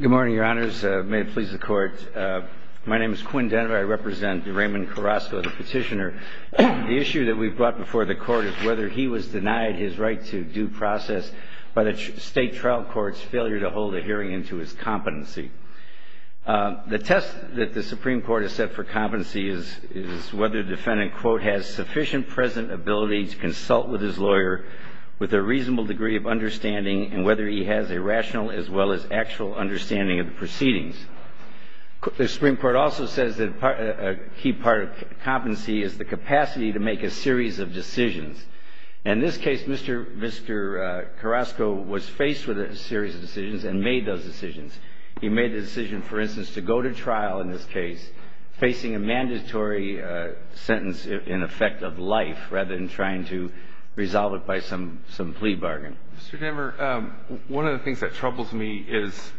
Good morning, your honors. May it please the court. My name is Quinn Denner. I represent Raymond Carrasco, the petitioner. The issue that we've brought before the court is whether he was denied his right to due process by the state trial court's failure to hold a hearing into his competency. The test that the Supreme Court has set for competency is whether the defendant quote has sufficient present ability to consult with his lawyer with a reasonable degree of understanding and whether he has a rational as well as actual understanding of the proceedings. The Supreme Court also says that a key part of competency is the capacity to make a series of decisions. In this case, Mr. Carrasco was faced with a series of decisions and made those decisions. He made the decision, for instance, to go to trial in this case, facing a mandatory sentence in effect of life rather than trying to resolve it by some plea bargain. Mr. Denner, one of the things that troubles me is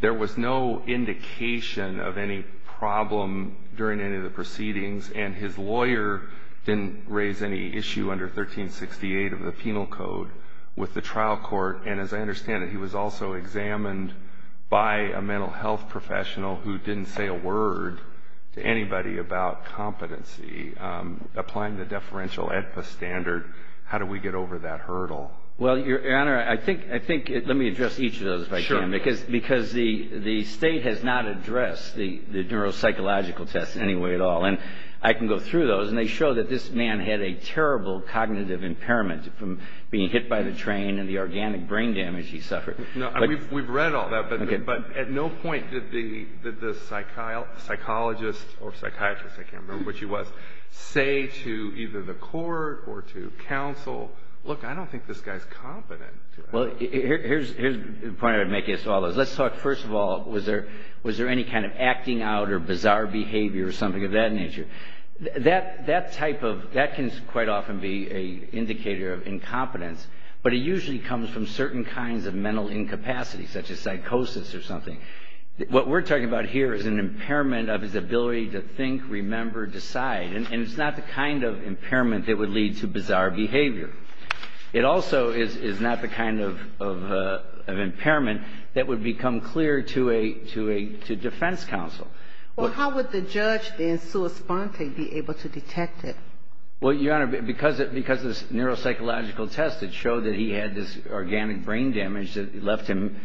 there was no indication of any problem during any of the proceedings and his lawyer didn't raise any issue under 1368 of the penal code with the trial court. And as I understand it, he was also examined by a mental health professional who didn't say a word to anybody about competency. Applying the deferential AEDPA standard, how do we get over that hurdle? Well, Your Honor, I think, let me address each of those if I can. Sure. Because the State has not addressed the neuropsychological tests in any way at all. And I can go through those and they show that this man had a terrible cognitive impairment from being hit by the train and the organic brain damage he suffered. No, we've read all that, but at no point did the psychologist or psychiatrist, I can't remember what she was, say to either the court or to counsel, look, I don't think this guy's competent. Well, here's the point I'm making as to all those. Let's talk, first of all, was there any kind of acting out or bizarre behavior or something of that nature? That type of, that can quite often be an indicator of incompetence, but it usually comes from certain kinds of mental incapacity such as psychosis or something. What we're talking about here is an impairment of his ability to think, remember, decide, and it's not the kind of impairment that would lead to bizarre behavior. It also is not the kind of impairment that would become clear to defense counsel. Well, how would the judge then, sua sponte, be able to detect it? Well, Your Honor, because the neuropsychological tests that show that he had this organic brain damage that left him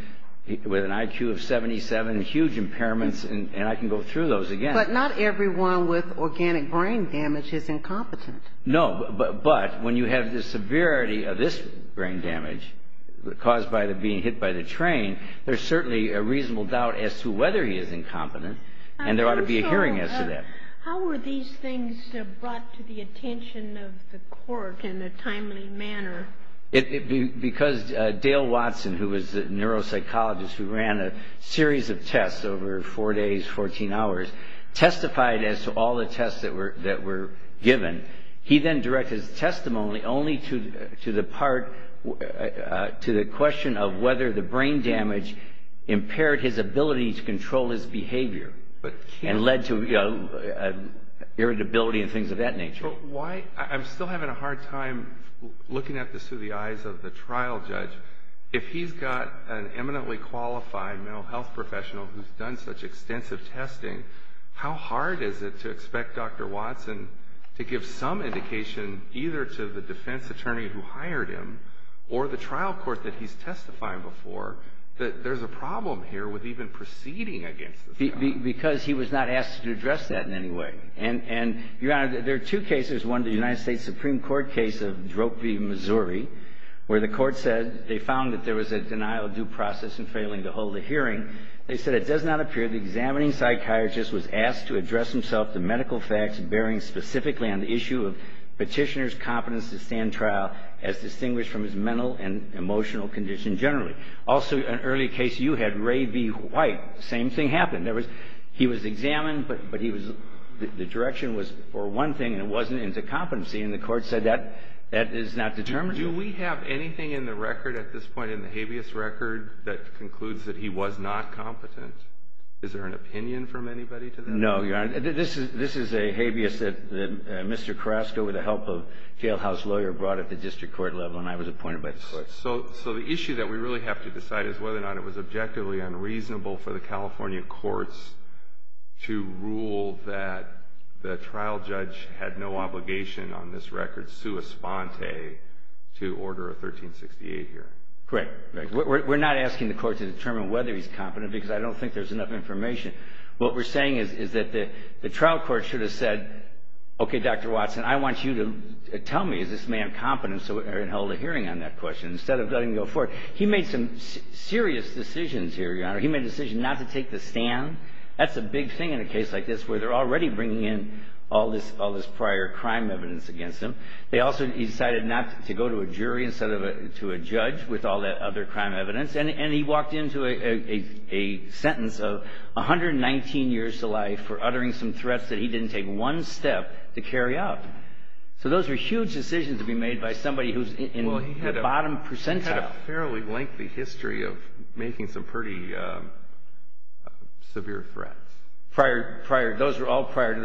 with an IQ of 77, huge impairments, and I can go through those again. But not everyone with organic brain damage is incompetent. No, but when you have the severity of this brain damage caused by being hit by the train, there's certainly a reasonable doubt as to whether he is incompetent, and there ought to be a hearing as to that. Counsel, how were these things brought to the attention of the court in a timely manner? Because Dale Watson, who was a neuropsychologist who ran a series of tests over 4 days, 14 hours, testified as to all the tests that were given. He then directed his testimony only to the part, to the question of whether the brain damage impaired his ability to control his behavior and led to irritability and things of that nature. But why, I'm still having a hard time looking at this through the eyes of the trial judge. If he's got an eminently qualified mental health professional who's done such extensive testing, how hard is it to expect Dr. Watson to give some indication either to the defense attorney who hired him or the trial court that he's testifying before that there's a problem here with even proceeding against this? Because he was not asked to address that in any way. And, Your Honor, there are two cases. One, the United States Supreme Court case of Drogbe, Missouri, where the court said they found that there was a denial of due process and failing to hold a hearing. They said it does not appear the examining psychiatrist was asked to address himself to medical facts bearing specifically on the issue of Petitioner's competence to stand trial as distinguished from his mental and emotional condition generally. Also, an early case you had, Ray B. White, same thing happened. In other words, he was examined, but the direction was for one thing, and it wasn't into competency. And the court said that is not determined. Do we have anything in the record at this point, in the habeas record, that concludes that he was not competent? Is there an opinion from anybody to that? No, Your Honor. This is a habeas that Mr. Carrasco, with the help of a jailhouse lawyer, brought at the district court level, and I was appointed by the court. So the issue that we really have to decide is whether or not it was objectively unreasonable for the California courts to rule that the trial judge had no obligation on this record, sua sponte, to order a 1368 hearing. Correct. We're not asking the court to determine whether he's competent because I don't think there's enough information. What we're saying is that the trial court should have said, okay, Dr. Watson, I want you to tell me, is this man competent so we can hold a hearing on that question instead of letting him go forward? He made some serious decisions here, Your Honor. He made a decision not to take the stand. That's a big thing in a case like this where they're already bringing in all this prior crime evidence against him. He decided not to go to a jury instead of to a judge with all that other crime evidence, and he walked into a sentence of 119 years to life for uttering some threats that he didn't take one step to carry out. So those were huge decisions to be made by somebody who's in the bottom percentile. He had a fairly lengthy history of making some pretty severe threats. Those were all prior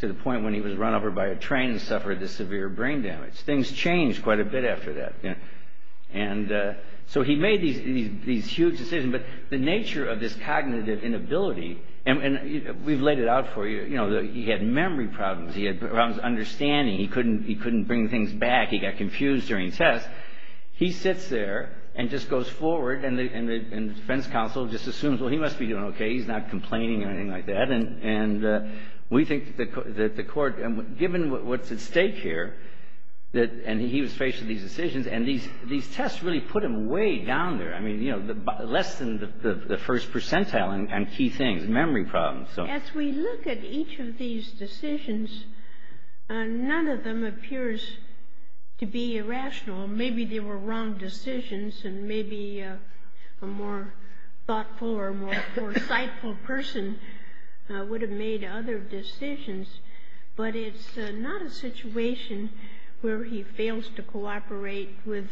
to the point when he was run over by a train and suffered this severe brain damage. Things changed quite a bit after that. So he made these huge decisions, but the nature of this cognitive inability, and we've laid it out for you, you know, he had memory problems. He had problems understanding. He couldn't bring things back. He got confused during tests. He sits there and just goes forward, and the defense counsel just assumes, well, he must be doing okay. He's not complaining or anything like that. And we think that the court, given what's at stake here, and he was faced with these decisions, and these tests really put him way down there. I mean, you know, less than the first percentile on key things, memory problems. As we look at each of these decisions, none of them appears to be irrational. Maybe they were wrong decisions, and maybe a more thoughtful or more foresightful person would have made other decisions. But it's not a situation where he fails to cooperate with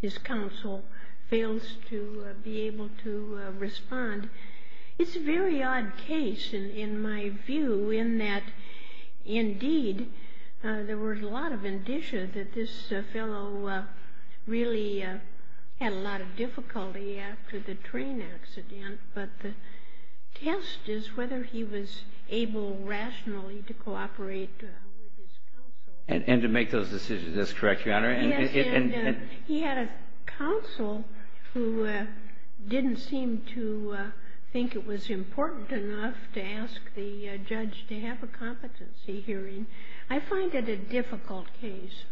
his counsel, fails to be able to respond. It's a very odd case in my view in that, indeed, there was a lot of indicia that this fellow really had a lot of difficulty after the train accident, but the test is whether he was able rationally to cooperate with his counsel. And to make those decisions. That's correct, Your Honor. Yes, and he had a counsel who didn't seem to think it was important enough to ask the judge to have a competency hearing. I find it a difficult case.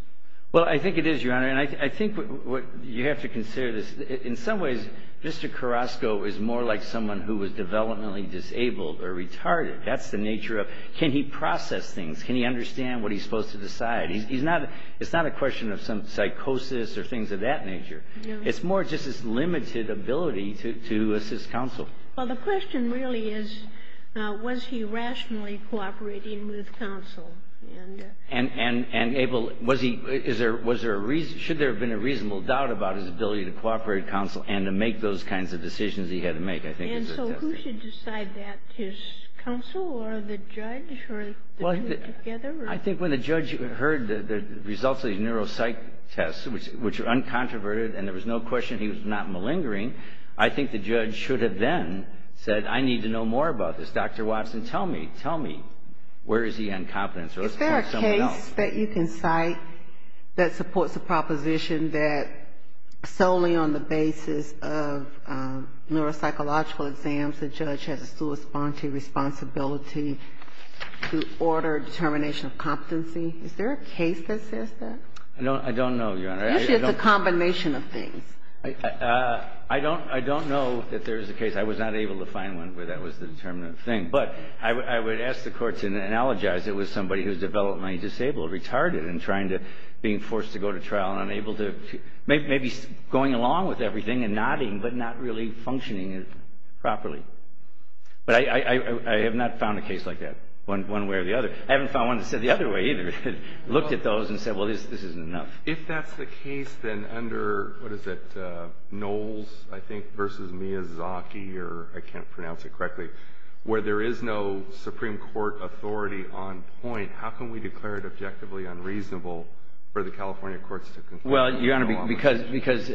Well, I think it is, Your Honor. And I think what you have to consider is, in some ways, Mr. Carrasco is more like someone who was developmentally disabled or retarded. That's the nature of, can he process things? Can he understand what he's supposed to decide? He's not, it's not a question of some psychosis or things of that nature. It's more just his limited ability to assist counsel. Well, the question really is, was he rationally cooperating with counsel? And, Abel, was he, was there a, should there have been a reasonable doubt about his ability to cooperate with counsel and to make those kinds of decisions he had to make? And so who should decide that, his counsel or the judge? Well, I think when the judge heard the results of these neuropsych tests, which were uncontroverted, and there was no question he was not malingering, I think the judge should have then said, I need to know more about this. Dr. Watson, tell me, tell me, where is he on competence? Or let's point to someone else. Is there a case that you can cite that supports the proposition that solely on the basis of neuropsychological exams, the judge has a sui sponte responsibility to order determination of competency? Is there a case that says that? No, I don't know, Your Honor. Usually it's a combination of things. I don't, I don't know that there is a case. I was not able to find one where that was the determinant of the thing. But I would ask the Court to analogize it with somebody who is developmentally disabled, retarded, and trying to, being forced to go to trial and unable to, maybe going along with everything and nodding, but not really functioning properly. But I have not found a case like that, one way or the other. I haven't found one that's said the other way, either. Looked at those and said, well, this isn't enough. If that's the case, then under, what is it, Knowles, I think, versus Miyazaki, or I can't pronounce it correctly, where there is no Supreme Court authority on point, how can we declare it objectively unreasonable for the California courts to conclude? Well, Your Honor, because, because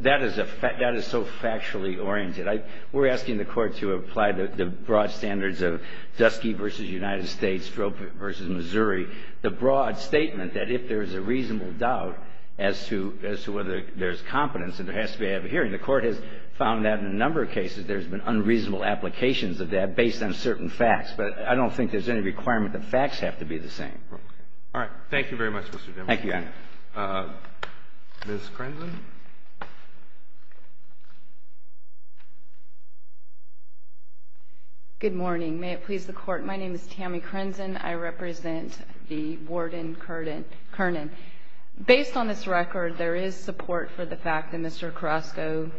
that is a fact, that is so factually oriented. I, we're asking the Court to apply the broad standards of Dusky v. United States, Strobe v. Missouri, the broad statement that if there is a reasonable doubt as to, as to whether there's competence, then there has to be a hearing. The Court has found that in a number of cases there's been unreasonable applications of that based on certain facts. But I don't think there's any requirement that facts have to be the same. All right. Thank you very much, Mr. Demers. Thank you, Your Honor. Ms. Crenson. Good morning. May it please the Court. My name is Tammy Crenson. I represent the warden, Kernan. Based on this record, there is support for the fact that Mr. Carrasco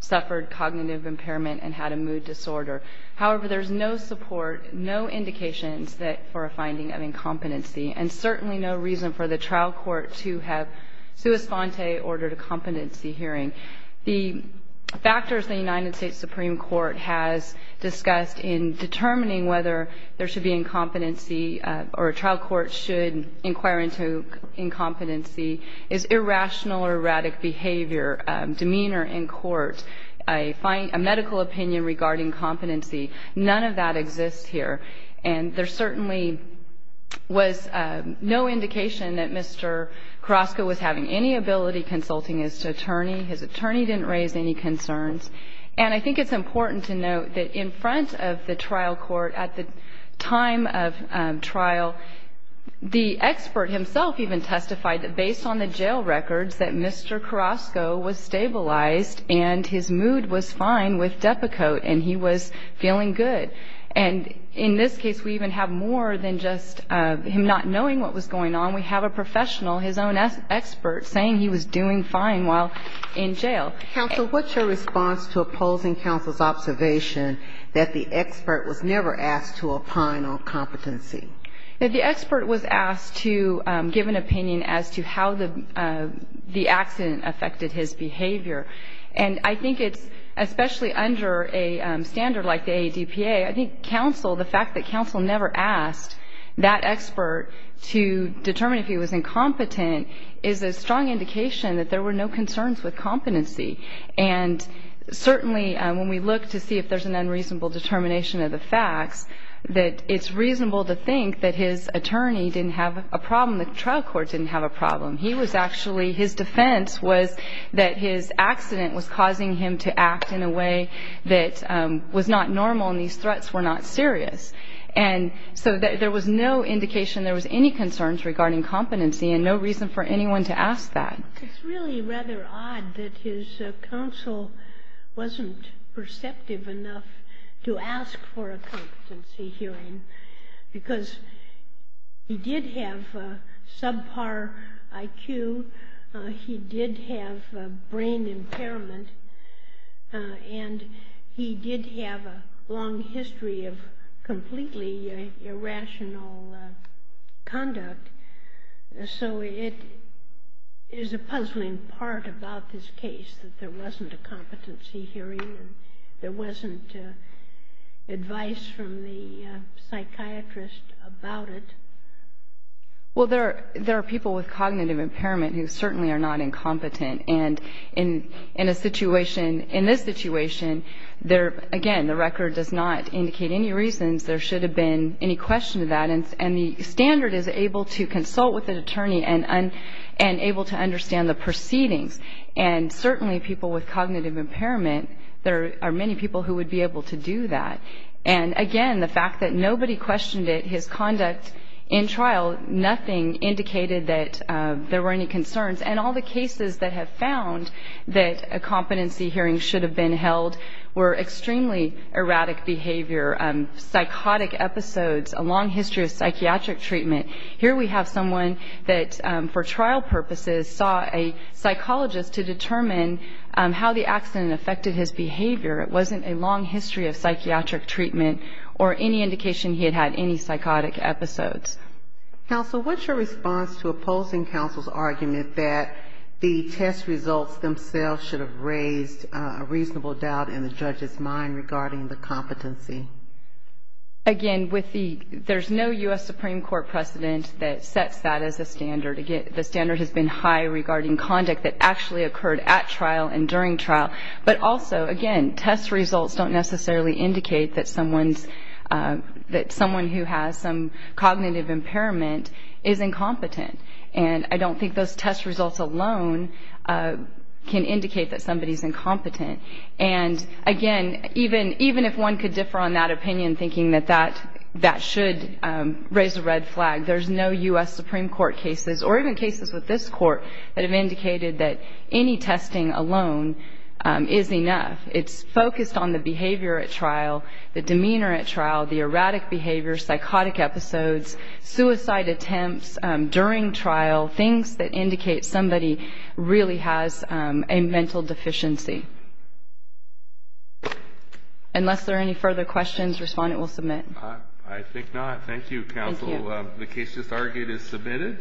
suffered cognitive impairment and had a mood disorder. However, there's no support, no indications that, for a finding of incompetency, and certainly no reason for the trial court to have sua sponte, ordered a competency hearing. The factors the United States Supreme Court has discussed in determining whether there should be incompetency or a trial court should inquire into incompetency is irrational or erratic behavior, demeanor in court, a medical opinion regarding competency. None of that exists here. And there certainly was no indication that Mr. Carrasco was having any ability consulting his attorney. His attorney didn't raise any concerns. And I think it's important to note that in front of the trial court at the time of trial, the expert himself even testified that, based on the jail records, that Mr. Carrasco was stabilized and his mood was fine with Depakote and he was feeling good. And in this case, we even have more than just him not knowing what was going on. We have a professional, his own expert, saying he was doing fine while in jail. Counsel, what's your response to opposing counsel's observation that the expert was never asked to opine on competency? The expert was asked to give an opinion as to how the accident affected his behavior. And I think it's, especially under a standard like the ADPA, I think counsel, the fact that counsel never asked that expert to determine if he was incompetent, is a strong indication that there were no concerns with competency. And certainly when we look to see if there's an unreasonable determination of the facts, that it's reasonable to think that his attorney didn't have a problem, the trial court didn't have a problem. He was actually, his defense was that his accident was causing him to act in a way that was not normal and these threats were not serious. And so there was no indication there was any concerns regarding competency and no reason for anyone to ask that. It's really rather odd that his counsel wasn't perceptive enough to ask for a competency hearing because he did have subpar IQ, he did have brain impairment, and he did have a long history of completely irrational conduct. So it is a puzzling part about this case that there wasn't a competency hearing, there wasn't advice from the psychiatrist about it. Well, there are people with cognitive impairment who certainly are not incompetent. And in a situation, in this situation, again, the record does not indicate any reasons there should have been any question of that. And the standard is able to consult with an attorney and able to understand the proceedings. And certainly people with cognitive impairment, there are many people who would be able to do that. And, again, the fact that nobody questioned his conduct in trial, nothing indicated that there were any concerns. And all the cases that have found that a competency hearing should have been held were extremely erratic behavior, psychotic episodes, a long history of psychiatric treatment. Here we have someone that for trial purposes saw a psychologist to determine how the accident affected his behavior. It wasn't a long history of psychiatric treatment or any indication he had had any psychotic episodes. Counsel, what's your response to opposing counsel's argument that the test results themselves should have raised a reasonable doubt in the judge's mind regarding the competency? Again, there's no U.S. Supreme Court precedent that sets that as a standard. Again, the standard has been high regarding conduct that actually occurred at trial and during trial. But also, again, test results don't necessarily indicate that someone who has some cognitive impairment is incompetent. And I don't think those test results alone can indicate that somebody is incompetent. And, again, even if one could differ on that opinion, thinking that that should raise a red flag, there's no U.S. Supreme Court cases or even cases with this court that have indicated that any testing alone is enough. It's focused on the behavior at trial, the demeanor at trial, the erratic behavior, psychotic episodes, suicide attempts during trial, things that indicate somebody really has a mental deficiency. Unless there are any further questions, respondent will submit. I think not. Thank you, counsel. Thank you. The case just argued is submitted.